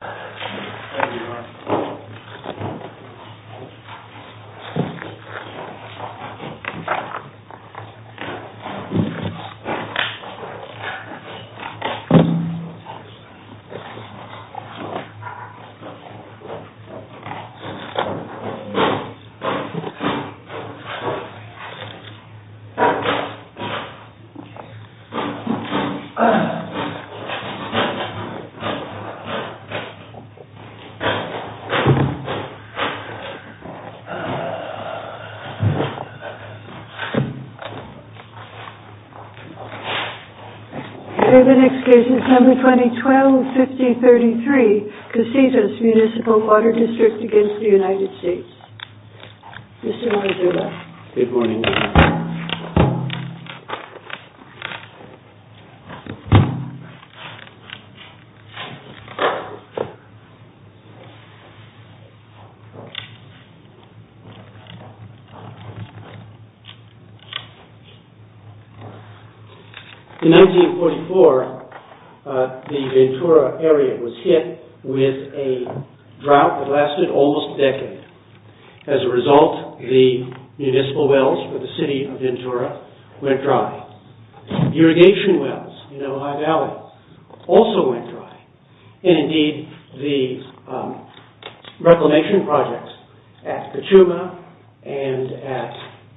Thank you very much. The next case is number 2012-5033, CASITAS MUNICIPAL WATER DISTRICT v. United States. Mr. Maradona. In 1944, the Ventura area was hit with a drought that lasted almost a decade. As a result, the municipal wells for the city of Ventura went dry. Irrigation wells in Ohio Valley also went dry. And indeed, the reclamation projects at Kachuma and at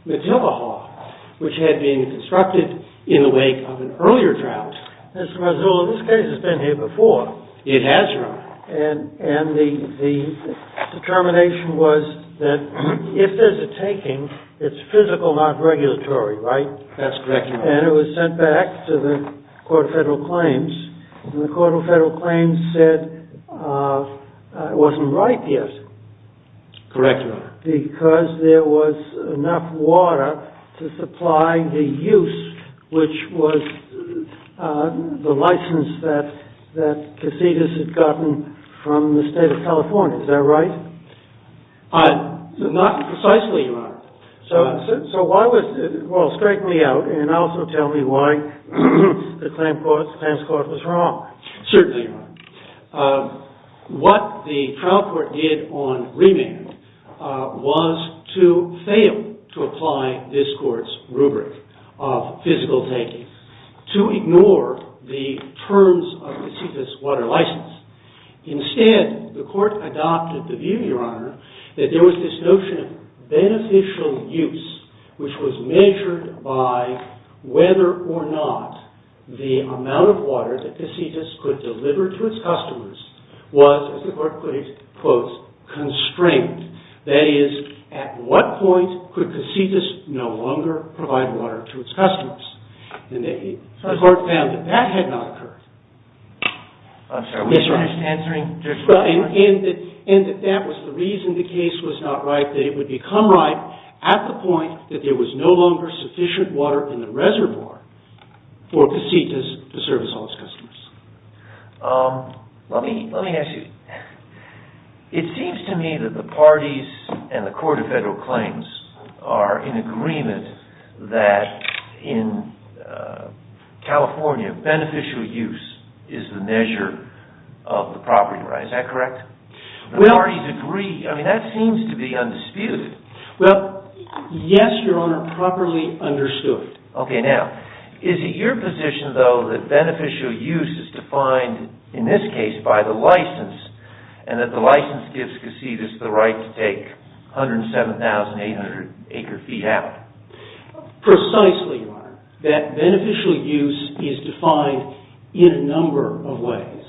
McTilgahaw, which had been constructed in the wake of an earlier drought. Mr. Maradona, this case has been here before. It has, Your Honor. And the determination was that if there's a taking, it's physical, not regulatory, right? That's correct, Your Honor. And it was sent back to the Court of Federal Claims. And the Court of Federal Claims said it wasn't right yet. Correct, Your Honor. Because there was enough water to supply the use, which was the license that CASITAS had gotten from the state of California. Is that right? Not precisely, Your Honor. So why was it? Well, strike me out and also tell me why the claims court was wrong. Certainly, Your Honor. What the trial court did on remand was to fail to apply this court's rubric of physical taking, to ignore the terms of CASITAS water license. Instead, the court adopted the view, Your Honor, that there was this notion of beneficial use, which was measured by whether or not the amount of water that CASITAS could deliver to its customers was, as the court put it, quote, constrained. That is, at what point could CASITAS no longer provide water to its customers? And the court found that that had not occurred. Yes, Your Honor. And that that was the reason the case was not right, that it would become right at the point that there was no longer sufficient water in the reservoir for CASITAS to service all its customers. Let me ask you. It seems to me that the parties and the Court of Federal Claims are in agreement that in California, beneficial use is the measure of the property, right? Is that correct? The parties agree. I mean, that seems to be undisputed. Well, yes, Your Honor, properly understood. Okay, now, is it your position, though, that beneficial use is defined, in this case, by the license, and that the license gives CASITAS the right to take 107,800 acre-feet out? Precisely, Your Honor, that beneficial use is defined in a number of ways.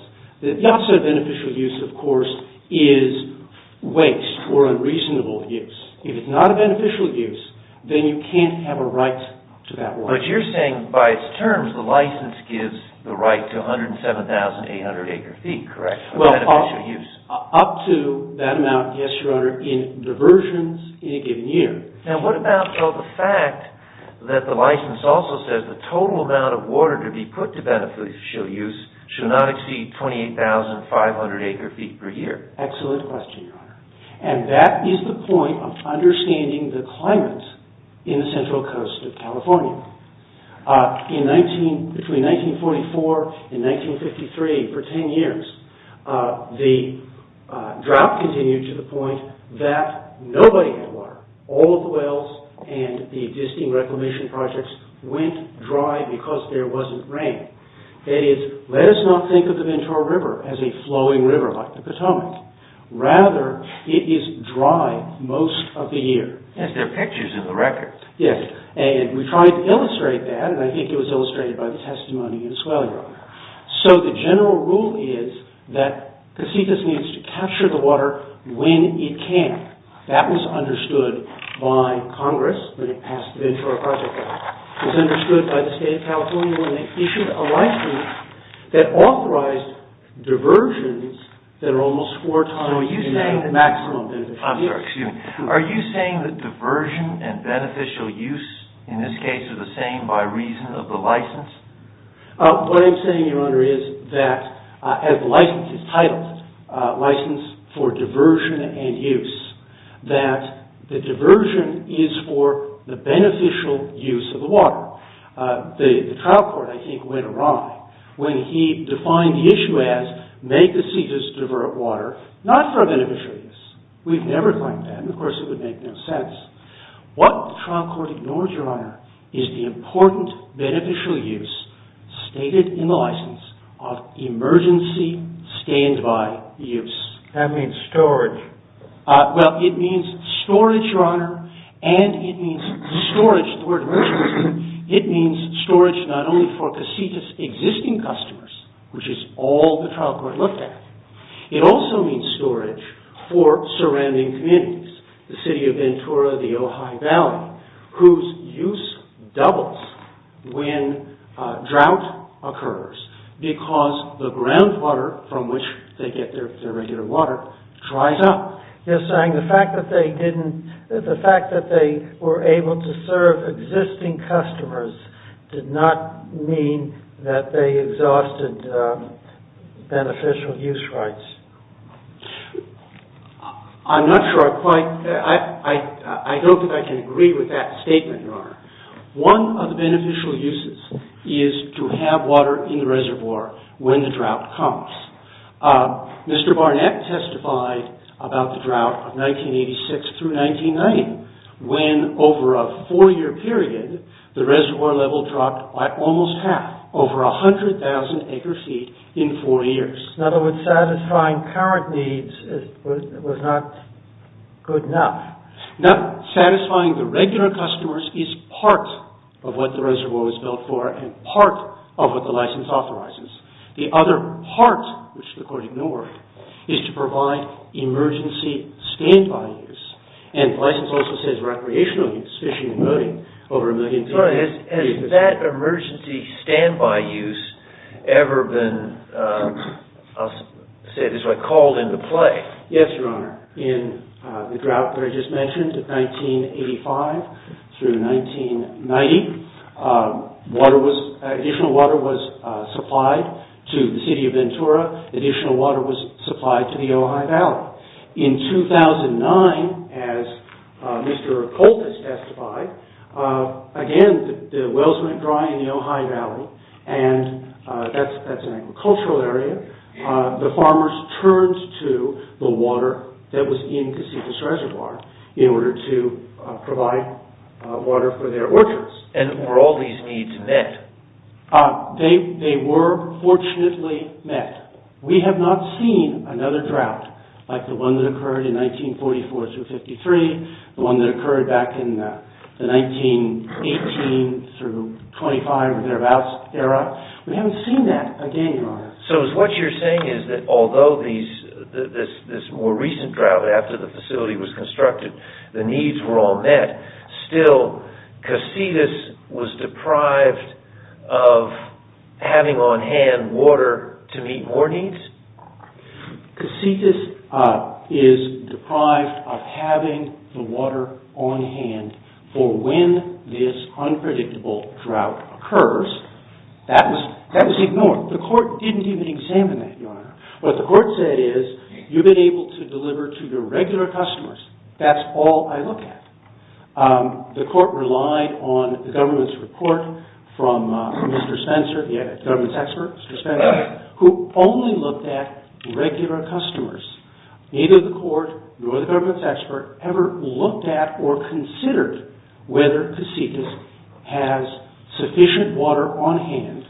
The opposite of beneficial use, of course, is waste or unreasonable use. If it's not a beneficial use, then you can't have a right to that water. But you're saying, by its terms, the license gives the right to 107,800 acre-feet, correct, of beneficial use? Well, up to that amount, yes, Your Honor, in diversions in a given year. Now, what about, though, the fact that the license also says the total amount of water to be put to beneficial use should not exceed 28,500 acre-feet per year? Excellent question, Your Honor. And that is the point of understanding the climate in the central coast of California. Between 1944 and 1953, for 10 years, the drought continued to the point that nobody had water. All of the wells and the existing reclamation projects went dry because there wasn't rain. That is, let us not think of the Ventura River as a flowing river like the Potomac. Rather, it is dry most of the year. Yes, there are pictures in the record. Yes, and we tried to illustrate that, and I think it was illustrated by the testimony in Swelling Rock. So, the general rule is that CACITAS needs to capture the water when it can. That was understood by Congress when it passed the Ventura Project Act. It was understood by the State of California when they issued a license that authorized diversions that are almost four times the maximum beneficial use. I'm sorry, excuse me. Are you saying that diversion and beneficial use, in this case, are the same by reason of the license? What I'm saying, Your Honor, is that as the license is titled, License for Diversion and Use, that the diversion is for the beneficial use of the water. The trial court, I think, went awry when he defined the issue as make the CACITAS divert water, not for a beneficial use. We've never claimed that, and of course it would make no sense. What the trial court ignored, Your Honor, is the important beneficial use stated in the license of emergency standby use. That means storage. Well, it means storage, Your Honor, and it means storage, the word emergency. It means storage not only for CACITAS' existing customers, which is all the trial court looked at. It also means storage for surrounding communities, the City of Ventura, the Ojai Valley, whose use doubles when drought occurs because the groundwater from which they get their regular water dries up. Just saying, the fact that they were able to serve existing customers did not mean that they exhausted beneficial use rights. I'm not sure I quite, I don't think I can agree with that statement, Your Honor. One of the beneficial uses is to have water in the reservoir when the drought comes. Mr. Barnett testified about the drought of 1986 through 1990 when over a four year period, the reservoir level dropped by almost half, over 100,000 acre feet in four years. In other words, satisfying current needs was not good enough. Not satisfying the regular customers is part of what the reservoir was built for and part of what the license authorizes. The other part, which the court ignored, is to provide emergency standby use. And the license also says recreational use, fishing and boating, over a million feet. Has that emergency standby use ever been called into play? Yes, Your Honor. In the drought that I just mentioned, 1985 through 1990, additional water was supplied to the city of Ventura. Additional water was supplied to the Ojai Valley. In 2009, as Mr. Colt has testified, again the wells went dry in the Ojai Valley and that's an agricultural area. The farmers turned to the water that was in Cacifas Reservoir in order to provide water for their orchards. And were all these needs met? They were fortunately met. We have not seen another drought like the one that occurred in 1944 through 53, the one that occurred back in the 1918 through 25 or thereabouts era. So what you're saying is that although this more recent drought after the facility was constructed, the needs were all met, still Cacifas was deprived of having on hand water to meet more needs? Cacifas is deprived of having the water on hand for when this unpredictable drought occurs. That was ignored. The court didn't even examine that, Your Honor. What the court said is you've been able to deliver to your regular customers. That's all I look at. The court relied on the government's report from Mr. Spencer, the government's expert, Mr. Spencer, who only looked at regular customers. Neither the court nor the government's expert ever looked at or considered whether Cacifas has sufficient water on hand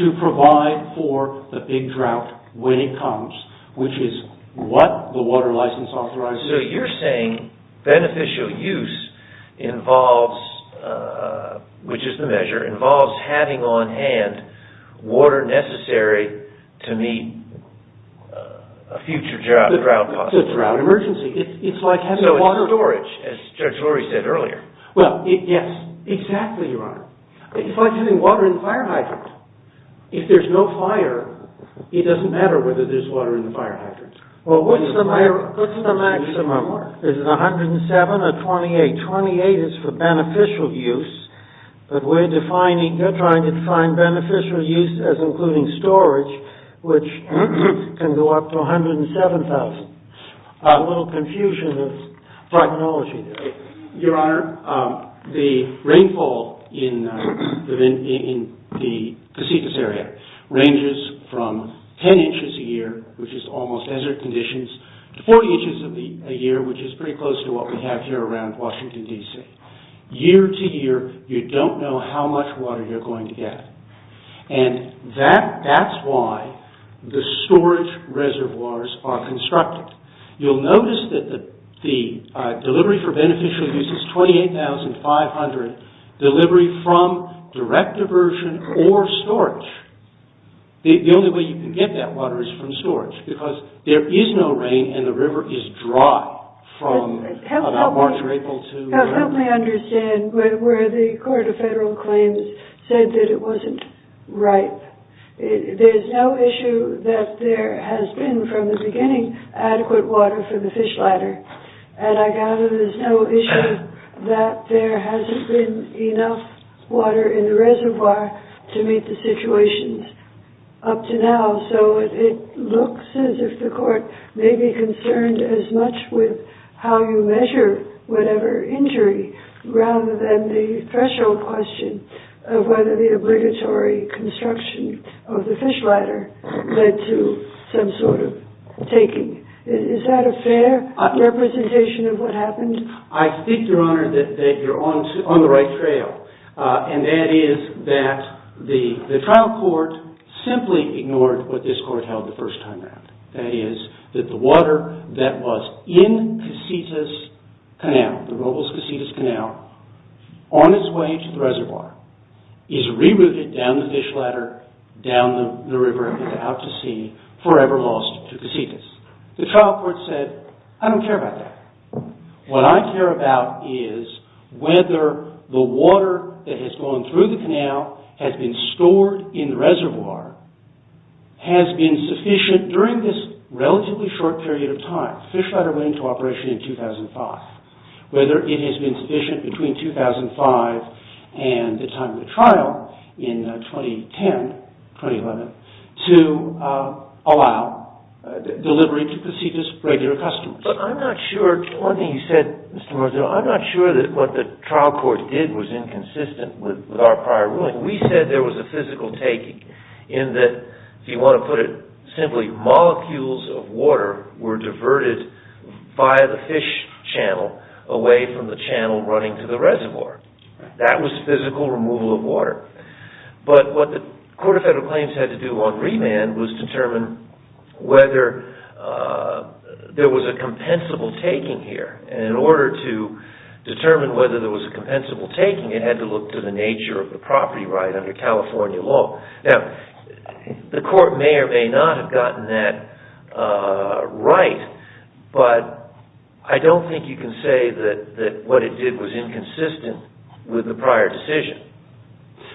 to provide for the big drought when it comes, which is what the water license authorizes. So you're saying beneficial use involves, which is the measure, involves having on hand water necessary to meet a future drought possible. It's a drought emergency. It's like having water. So it's storage, as Judge Lurie said earlier. Well, yes, exactly, Your Honor. It's like having water in the fire hydrant. If there's no fire, it doesn't matter whether there's water in the fire hydrant. Well, what's the maximum? Is it 107 or 28? 28 is for beneficial use, but we're defining, they're trying to define beneficial use as including storage, which can go up to 107,000. A little confusion of prognology. Your Honor, the rainfall in the Cacifas area ranges from 10 inches a year, which is almost desert conditions, to 40 inches a year, which is pretty close to what we have here around Washington, D.C. Year to year, you don't know how much water you're going to get, and that's why the storage reservoirs are constructed. You'll notice that the delivery for beneficial use is 28,500, delivery from direct diversion or storage. The only way you can get that water is from storage, because there is no rain and the river is dry from about March or April to November. Help me understand where the Court of Federal Claims said that it wasn't ripe. There's no issue that there has been, from the beginning, adequate water for the fish ladder, and I gather there's no issue that there hasn't been enough water in the reservoir to meet the situations up to now. So it looks as if the Court may be concerned as much with how you measure whatever injury, rather than the threshold question of whether the obligatory construction of the fish ladder led to some sort of taking. Is that a fair representation of what happened? I think, Your Honor, that you're on the right trail, and that is that the trial court simply ignored what this court held the first time around. That is that the water that was in Casitas Canal, the Robles-Casitas Canal, on its way to the reservoir, is rerouted down the fish ladder, down the river out to sea, forever lost to Casitas. The trial court said, I don't care about that. What I care about is whether the water that has gone through the canal has been stored in the reservoir, has been sufficient during this relatively short period of time. The fish ladder went into operation in 2005. Whether it has been sufficient between 2005 and the time of the trial in 2010, 2011, to allow delivery to Casitas regular customers. But I'm not sure, one thing you said, Mr. Marzullo, I'm not sure that what the trial court did was inconsistent with our prior ruling. We said there was a physical taking in that, if you want to put it simply, molecules of water were diverted via the fish channel away from the channel running to the reservoir. That was physical removal of water. But what the Court of Federal Claims had to do on remand was determine whether there was a compensable taking here. In order to determine whether there was a compensable taking, it had to look to the nature of the property right under California law. The court may or may not have gotten that right, but I don't think you can say that what it did was inconsistent with the prior decision.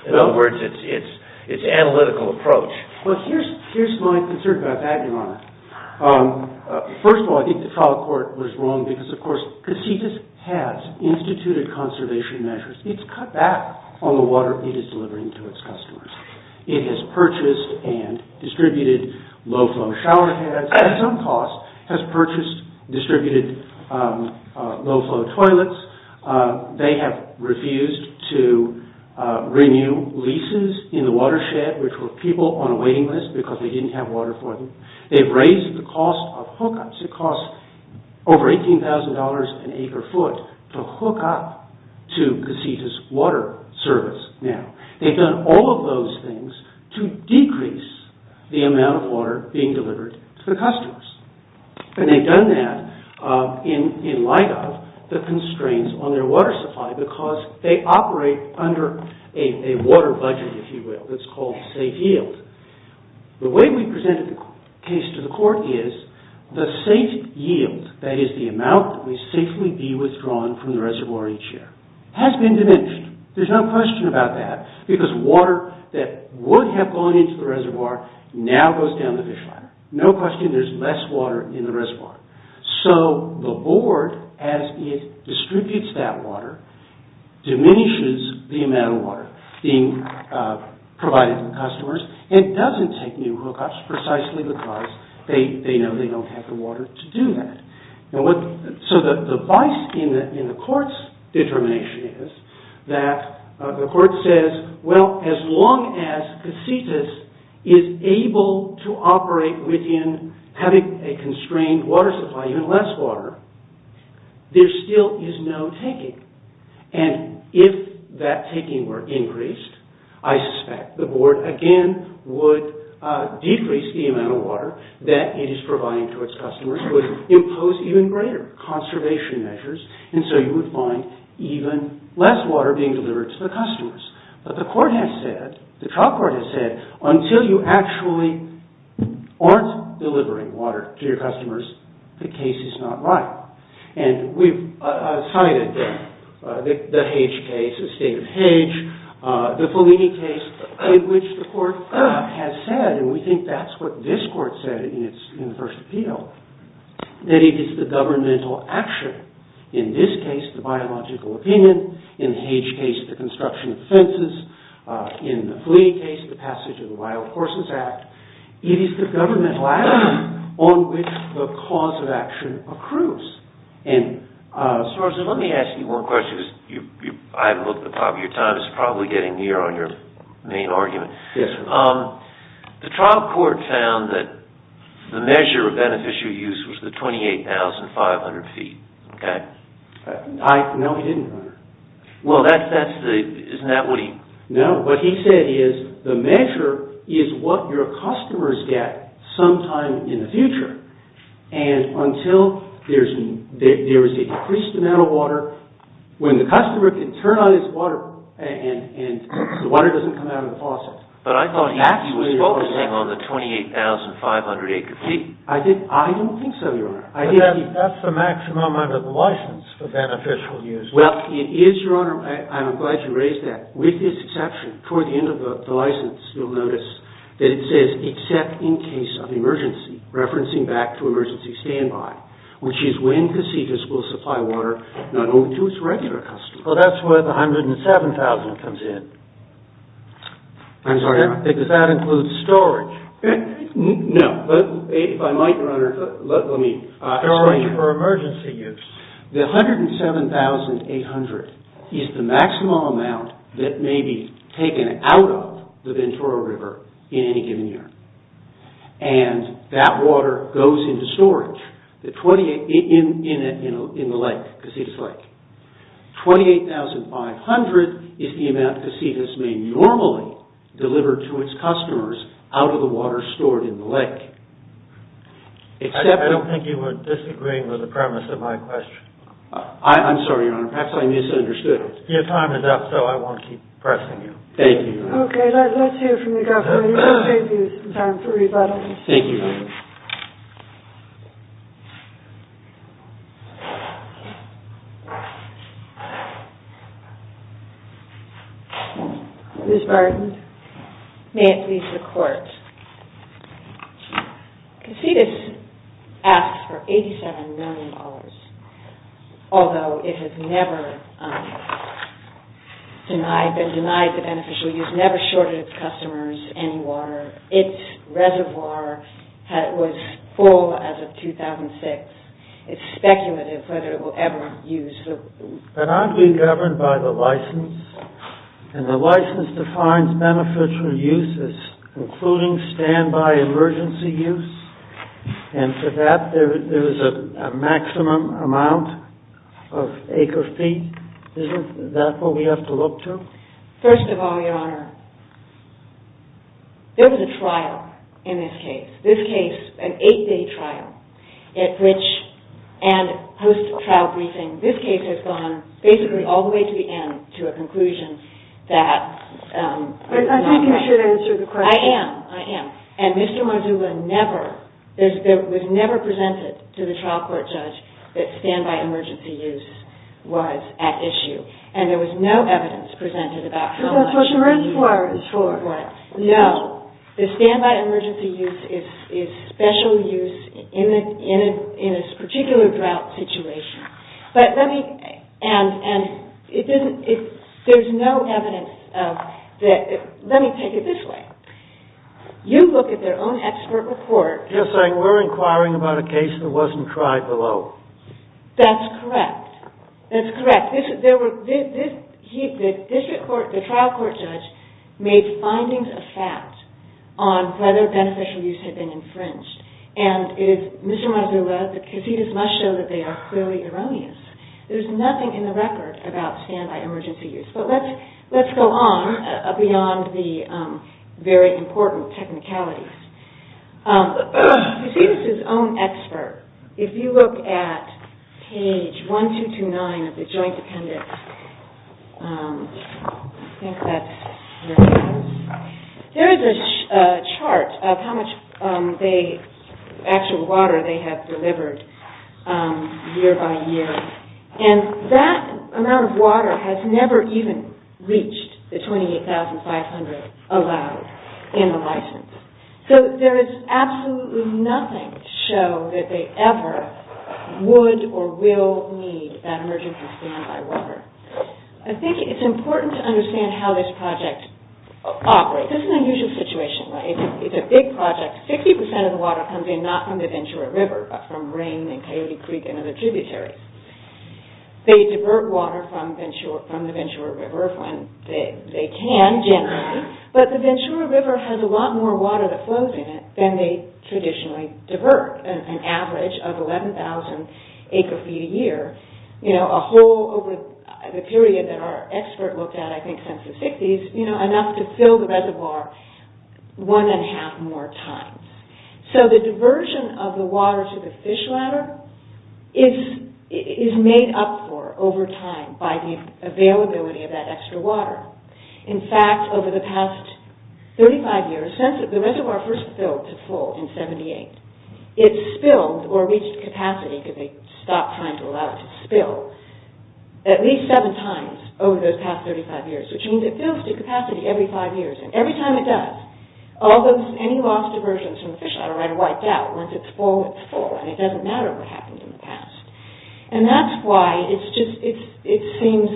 In other words, it's analytical approach. Well, here's my concern about that, Your Honor. First of all, I think the trial court was wrong because, of course, Casitas has instituted conservation measures. It's cut back on the water it is delivering to its customers. It has purchased and distributed low-flow shower heads at some cost. It has purchased and distributed low-flow toilets. They have refused to renew leases in the watershed, which were people on a waiting list because they didn't have water for them. They've raised the cost of hookups. It costs over $18,000 an acre foot to hook up to Casitas Water Service now. They've done all of those things to decrease the amount of water being delivered to the customers. They've done that in light of the constraints on their water supply because they operate under a water budget, if you will, that's called safe yield. The way we presented the case to the court is the safe yield, that is the amount that will safely be withdrawn from the reservoir each year, has been diminished. There's no question about that because water that would have gone into the reservoir now goes down the fish ladder. No question there's less water in the reservoir. So the board, as it distributes that water, diminishes the amount of water being provided to the customers and doesn't take new hookups precisely because they know they don't have the water to do that. So the vice in the court's determination is that the court says, well, as long as Casitas is able to operate within having a constrained water supply, even less water, there still is no taking. And if that taking were increased, I suspect the board again would decrease the amount of water that it is providing to its customers, would impose even greater conservation measures, and so you would find even less water being delivered to the customers. But the court has said, the trial court has said, until you actually aren't delivering water to your customers, the case is not right. And we've cited the Hage case, the state of Hage, the Fellini case in which the court has said, and we think that's what this court said in its first appeal, that it is the governmental action, in this case the biological opinion, in the Hage case the construction of fences, in the Fellini case the passage of the Wild Horses Act, it is the governmental action on which the cause of action accrues. And, Sargeant, let me ask you one question because I've looked at the top of your time, it's probably getting near on your main argument. Yes, sir. The trial court found that the measure of beneficial use was the 28,500 feet, okay? No, it didn't. Well, isn't that what he... No, what he said is the measure is what your customers get sometime in the future. And until there's a decreased amount of water, when the customer can turn on his water and the water doesn't come out of the faucet. But I thought he was focusing on the 28,500 acre feet. I don't think so, Your Honor. That's the maximum under the license for beneficial use. Well, it is, Your Honor, I'm glad you raised that. With this exception, toward the end of the license you'll notice that it says except in case of emergency, referencing back to emergency standby, which is when procedures will supply water not only to its regular customers. Well, that's where the 107,000 comes in. I'm sorry, Your Honor. Because that includes storage. No, but if I might, Your Honor, let me explain for emergency use. The 107,800 is the maximum amount that may be taken out of the Ventura River in any given year. And that water goes into storage in the lake, Casitas Lake. 28,500 is the amount Casitas may normally deliver to its customers out of the water stored in the lake. I don't think you were disagreeing with the premise of my question. I'm sorry, Your Honor. Perhaps I misunderstood. Your time is up, so I won't keep pressing you. Thank you, Your Honor. Okay. Let's hear it from the government. It will save you some time for rebuttal. Thank you, Your Honor. Ms. Barton, may it please the Court. Casitas asks for $87 million, although it has never been denied the beneficial use, never shorted its customers any water. Its reservoir was full as of 2006. It's speculative whether it will ever use the water. But aren't we governed by the license? And the license defines beneficial uses, including standby emergency use. And for that, there is a maximum amount of acre feet. Isn't that what we have to look to? First of all, Your Honor, there was a trial in this case. This case, an eight-day trial. And post-trial briefing, this case has gone basically all the way to the end, to a conclusion that... I think you should answer the question. I am. I am. And Mr. Modula never, was never presented to the trial court judge that standby emergency use was at issue. And there was no evidence presented about how much... Because that's what the reservoir is for. Right. No, the standby emergency use is special use in a particular drought situation. But let me... And there's no evidence of... Let me take it this way. You look at their own expert report... You're saying we're inquiring about a case that wasn't tried below. That's correct. That's correct. The trial court judge made findings of fact on whether beneficial use had been infringed. And if Mr. Modula, the casitas must show that they are clearly erroneous. There's nothing in the record about standby emergency use. But let's go on beyond the very important technicalities. You see this is his own expert. If you look at page 1229 of the joint appendix, I think that's where it is. There is a chart of how much actual water they have delivered year by year. And that amount of water has never even reached the 28,500 allowed in the license. So there is absolutely nothing to show that they ever would or will need that emergency standby water. I think it's important to understand how this project operates. This is an unusual situation. It's a big project. 60% of the water comes in not from the Ventura River, but from rain and Coyote Creek and other tributaries. They divert water from the Ventura River when they can generally. But the Ventura River has a lot more water that flows in it than they traditionally divert, an average of 11,000 acre feet a year. A hole over the period that our expert looked at, I think since the 60s, enough to fill the reservoir one and a half more times. So the diversion of the water to the fish ladder is made up for over time by the availability of that extra water. In fact, over the past 35 years, since the reservoir first filled to full in 78, it spilled or reached capacity because they stopped trying to allow it to spill at least seven times over those past 35 years, which means it fills to capacity every five years. And every time it does, any lost diversions from the fish ladder are wiped out. Once it's full, it's full. And it doesn't matter what happened in the past. And that's why it seems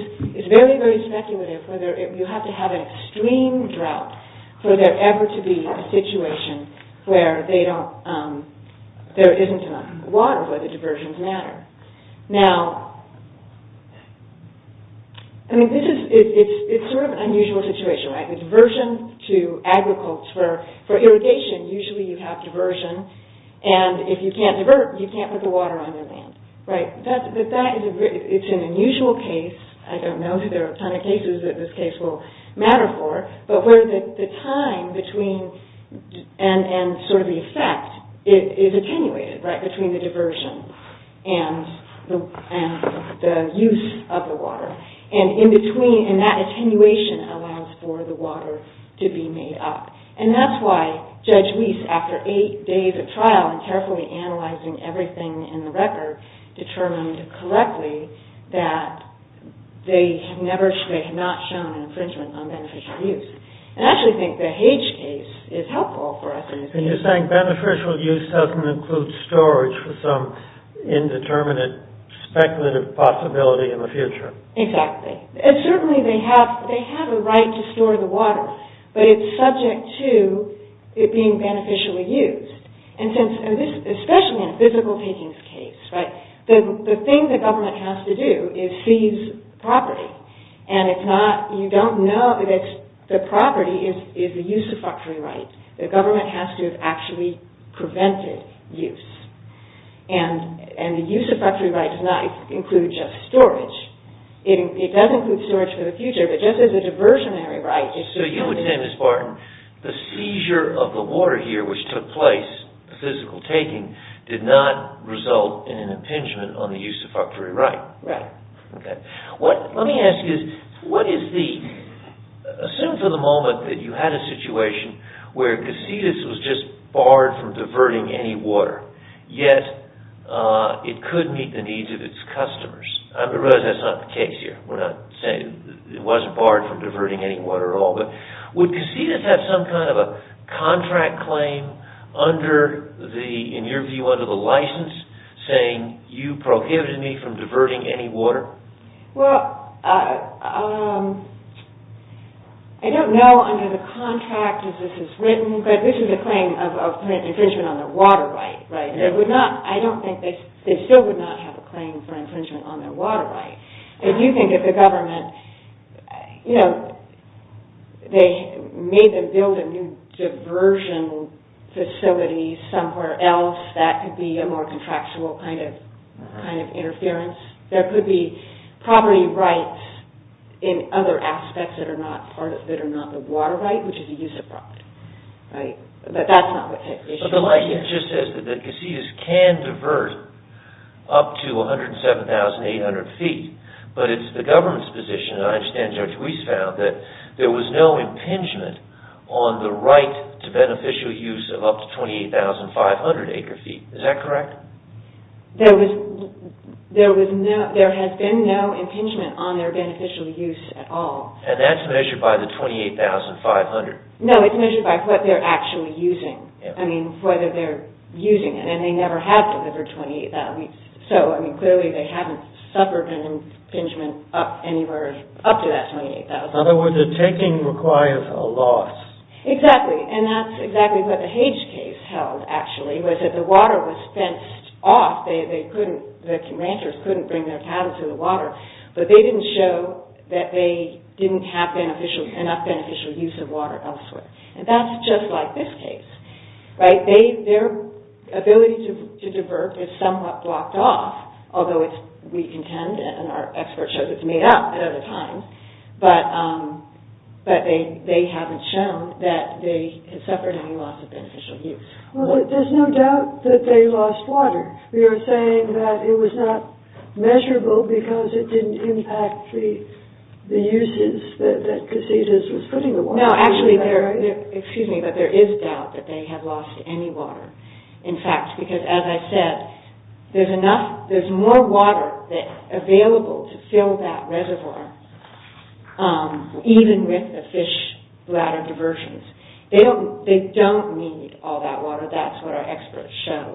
very, very speculative whether you have to have an extreme drought for there ever to be a situation where there isn't enough water, but the diversions matter. Now, I mean, it's sort of an unusual situation, right? The diversion to agriculture for irrigation, usually you have diversion, and if you can't divert, you can't put the water on your land, right? It's an unusual case. I don't know if there are a ton of cases that this case will matter for, but where the time between and sort of the effect is attenuated, right, between the diversion and the use of the water. And in between, and that attenuation allows for the water to be made up. And that's why Judge Weiss, after eight days of trial and carefully analyzing everything in the record, determined correctly that they had not shown infringement on beneficial use. And I actually think the Hage case is helpful for us in this case. And you're saying beneficial use doesn't include storage for some indeterminate speculative possibility in the future. Exactly. And certainly they have a right to store the water, but it's subject to it being beneficially used. And since, especially in a physical takings case, right, the thing the government has to do is seize property. And it's not, you don't know that the property is the use of factory right. The government has to have actually prevented use. And the use of factory right does not include just storage. It does include storage for the future, but just as a diversionary right. So you would say, Ms. Barton, the seizure of the water here, which took place, the physical taking, did not result in an impingement on the use of factory right. Right. Okay. Let me ask you, what is the, assume for the moment that you had a situation where Casitas was just barred from diverting any water, yet it could meet the needs of its customers. I realize that's not the case here. We're not saying it wasn't barred from diverting any water at all. But would Casitas have some kind of a contract claim under the, in your view, under the license, saying you prohibited me from diverting any water? Well, I don't know under the contract as this is written, but this is a claim of infringement on their water right. I don't think they, they still would not have a claim for infringement on their water right. If you think of the government, you know, they made them build a new diversion facility somewhere else, that could be a more contractual kind of interference. There could be property rights in other aspects that are not part of, that are not the water right, which is a use of property. But that's not what type of issue it is. But the license just says that Casitas can divert up to 107,800 feet, but it's the government's position, and I understand Judge Weiss found, that there was no impingement on the right to beneficial use of up to 28,500 acre feet. Is that correct? There was, there was no, there has been no impingement on their beneficial use at all. And that's measured by the 28,500? No, it's measured by what they're actually using. I mean, whether they're using it. And they never have delivered 28,000. So, I mean, clearly they haven't suffered an impingement up anywhere, up to that 28,000. In other words, the taking requires a loss. Exactly. And that's exactly what the Hage case held, actually, was that the water was fenced off. They couldn't, the ranchers couldn't bring their cattle to the water. But they didn't show that they didn't have beneficial, enough beneficial use of water elsewhere. And that's just like this case. Right? Their ability to divert is somewhat blocked off. Although we contend, and our experts show that it's made up at other times, but they haven't shown that they have suffered any loss of beneficial use. Well, there's no doubt that they lost water. You're saying that it was not measurable because it didn't impact the uses that Casillas was putting the water in. No, actually, there, excuse me, but there is doubt that they have lost any water. In fact, because as I said, there's enough, there's more water available to fill that reservoir, even with the fish bladder diversions. They don't need all that water. That's what our experts show.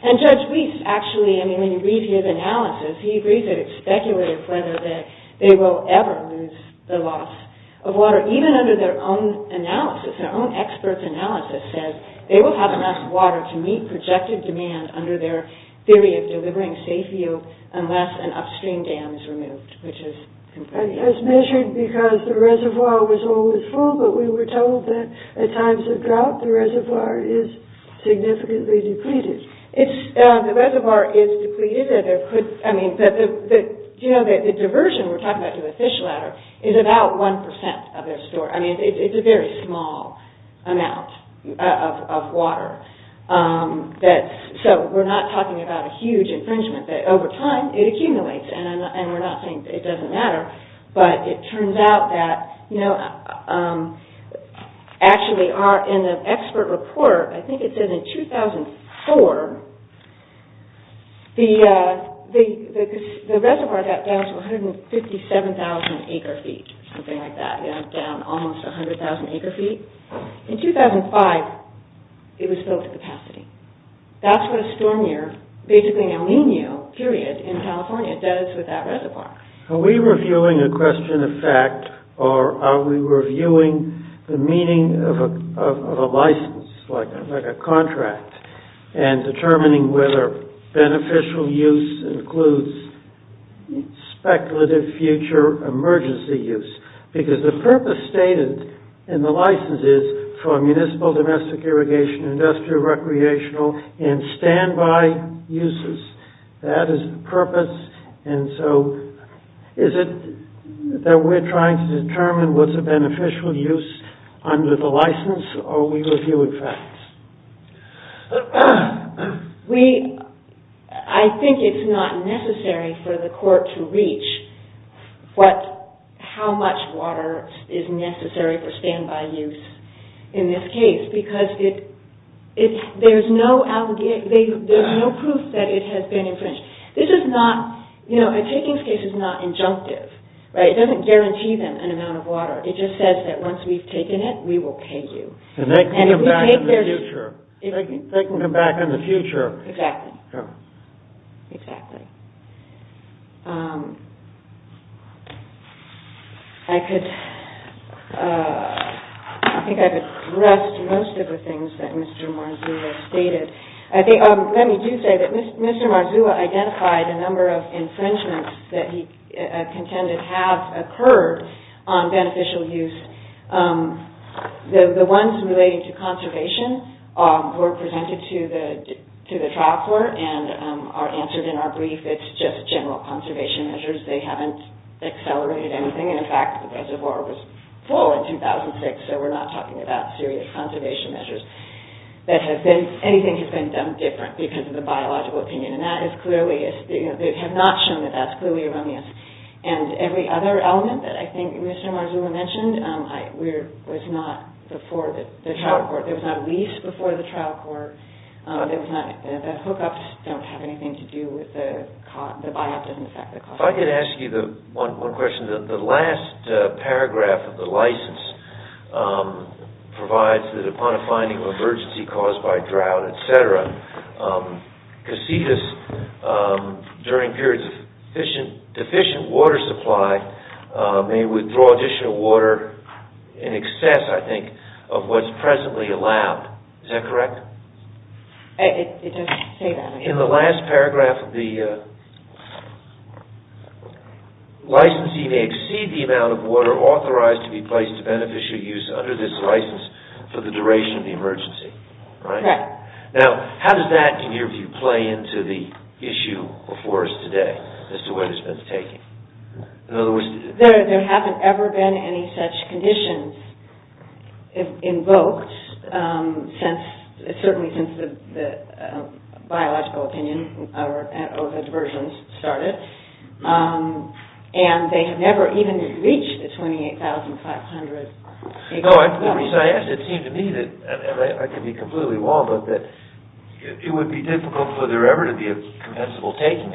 And Judge Reese, actually, I mean, when you read his analysis, he agrees that it's speculative whether they will ever lose the loss of water, but even under their own analysis, their own experts' analysis says they will have enough water to meet projected demand under their theory of delivering safe use unless an upstream dam is removed, which is compelling. It's measured because the reservoir was always full, but we were told that at times of drought, the reservoir is significantly depleted. The reservoir is depleted. Do you know that the diversion we're talking about to the fish bladder is about 1% of their store? I mean, it's a very small amount of water. So we're not talking about a huge infringement. Over time, it accumulates, and we're not saying it doesn't matter, but it turns out that actually in the expert report, I think it said in 2004, the reservoir got down to 157,000 acre-feet, something like that, down almost 100,000 acre-feet. In 2005, it was filled to capacity. That's what a storm year, basically an El Nino period in California does with that reservoir. Are we reviewing a question of fact, or are we reviewing the meaning of a license, like a contract, and determining whether beneficial use includes speculative future emergency use? Because the purpose stated in the license is for municipal, domestic irrigation, industrial, recreational, and standby uses. That is the purpose. And so is it that we're trying to determine what's a beneficial use under the license, or are we reviewing facts? I think it's not necessary for the court to reach how much water is necessary for standby use in this case, because there's no proof that it has been infringed. A takings case is not injunctive. It just says that once we've taken it, we will pay you. And they can come back in the future. They can come back in the future. Exactly. I think I've addressed most of the things that Mr. Marzua stated. Let me do say that Mr. Marzua identified a number of infringements that he contended have occurred on beneficial use. The ones relating to conservation were presented to the trial court and are answered in our brief. It's just general conservation measures. They haven't accelerated anything. And, in fact, the reservoir was full in 2006, so we're not talking about serious conservation measures. Anything has been done different because of the biological opinion. They have not shown that that's clearly erroneous. And every other element that I think Mr. Marzua mentioned was not before the trial court. There was not a lease before the trial court. The hookups don't have anything to do with the biopsy and the fact that it cost money. If I could ask you one question. The last paragraph of the license provides that upon a finding of emergency caused by drought, et cetera, casitas during periods of deficient water supply may withdraw additional water in excess, I think, of what's presently allowed. Is that correct? It does say that. In the last paragraph, the licensee may exceed the amount of water authorized to be placed to beneficial use under this license for the duration of the emergency. Correct. Now, how does that, in your view, play into the issue before us today as to what it's been taking? In other words... There haven't ever been any such conditions invoked, certainly since the biological opinion or the versions started, and they have never even reached the 28,500... The reason I asked it seemed to me that, and I could be completely wrong, but that it would be difficult for there ever to be a compensable taking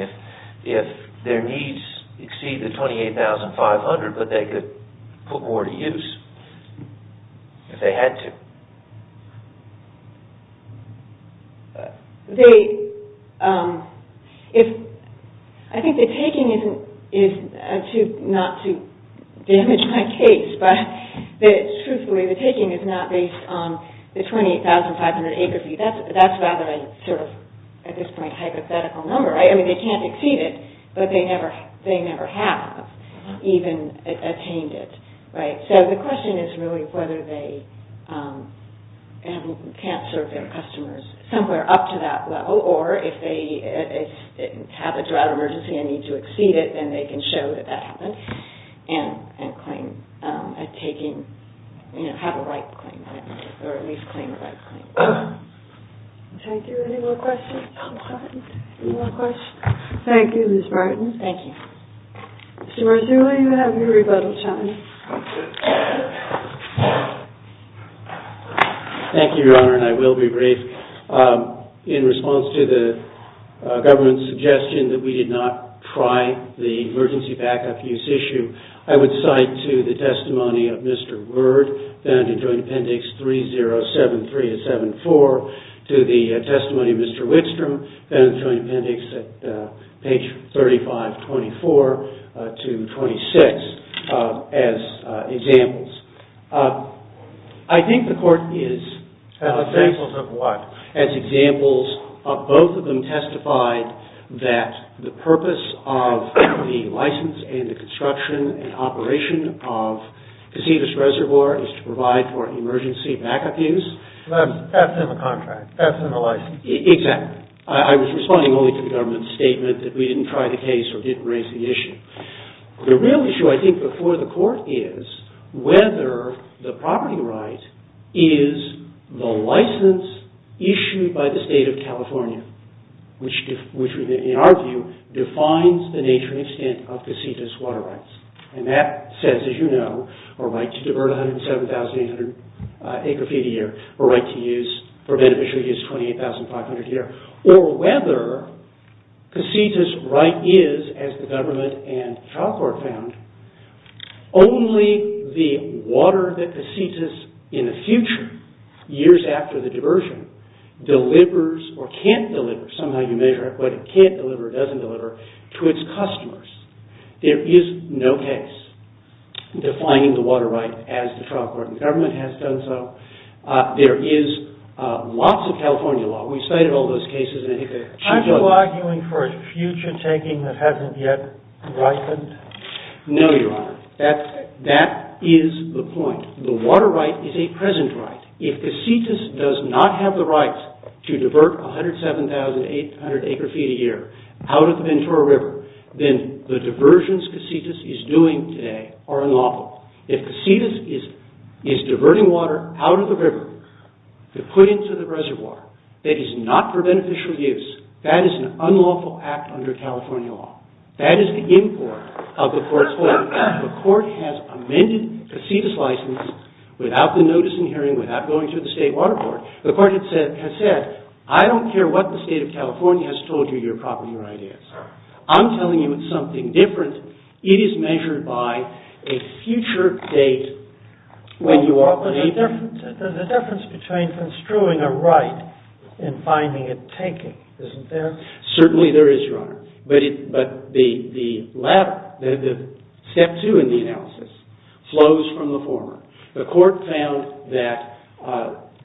if their needs exceed the 28,500, but they could put more to use if they had to. I think the taking is not to damage my case, but truthfully, the taking is not based on the 28,500 acre fee. That's rather a sort of, at this point, hypothetical number. I mean, they can't exceed it, but they never have even attained it. So the question is really whether they can't serve their customers somewhere up to that level, or if they have a drought emergency and need to exceed it, then they can show that that happened and have a right claim, or at least claim a right claim. Thank you. Any more questions? Thank you, Ms. Martin. Thank you. Mr. Mercer, will you have your rebuttal time? Thank you, Your Honor, and I will be brief. In response to the government's suggestion that we did not try the emergency backup use issue, I would cite to the testimony of Mr. Word, found in Joint Appendix 3073-74, or to the testimony of Mr. Wickstrom, found in the Joint Appendix at page 3524-26, as examples. I think the court is... As examples of what? As examples of both of them testified that the purpose of the license and the construction and operation of Cacivas Reservoir is to provide for emergency backup use. That's in the contract. That's in the license. Exactly. I was responding only to the government's statement that we didn't try the case or didn't raise the issue. The real issue, I think, before the court is whether the property right is the license issued by the State of California, which, in our view, defines the nature and extent of Cacivas water rights. And that says, as you know, our right to divert 107,800 acre feet a year, our right to use, for beneficial use, 28,500 a year. Or whether Cacivas right is, as the government and trial court found, only the water that Cacivas, in the future, years after the diversion, delivers or can't deliver, somehow you measure it, whether it can't deliver or doesn't deliver, to its customers. There is no case defining the water right as the trial court. The government has done so. There is lots of California law. We've cited all those cases. Are you arguing for a future taking that hasn't yet ripened? No, Your Honor. That is the point. The water right is a present right. If Cacivas does not have the right to divert 107,800 acre feet a year out of the Ventura River, then the diversions Cacivas is doing today are unlawful. If Cacivas is diverting water out of the river to put into the reservoir that is not for beneficial use, that is an unlawful act under California law. That is the import of the court's ruling. The court has amended Cacivas license without the notice and hearing, without going to the state water board. The court has said, I don't care what the state of California has told you, you're probably right. I'm telling you it's something different. It is measured by a future date. There's a difference between construing a right and finding it taking, isn't there? Certainly there is, Your Honor. But the step two in the analysis flows from the former. The court found that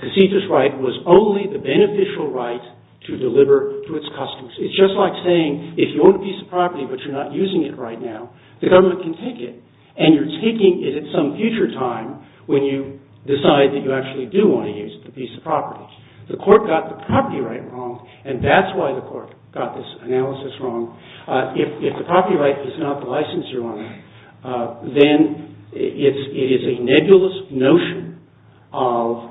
Cacivas' right was only the beneficial right to deliver to its customers. It's just like saying, if you own a piece of property but you're not using it right now, the government can take it, and you're taking it at some future time when you decide that you actually do want to use the piece of property. The court got the property right wrong, and that's why the court got this analysis wrong. If the property right is not the license, Your Honor, then it is a nebulous notion of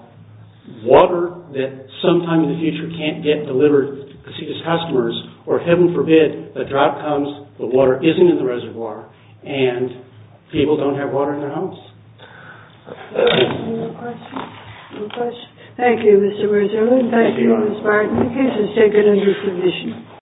water that sometime in the future can't get delivered to Cacivas' customers, or, heaven forbid, a drought comes, the water isn't in the reservoir, and people don't have water in their homes. Any more questions? No questions? Thank you, Mr. Wurzer. Thank you, Ms. Barton. Thank you, Your Honor. The case is taken under submission.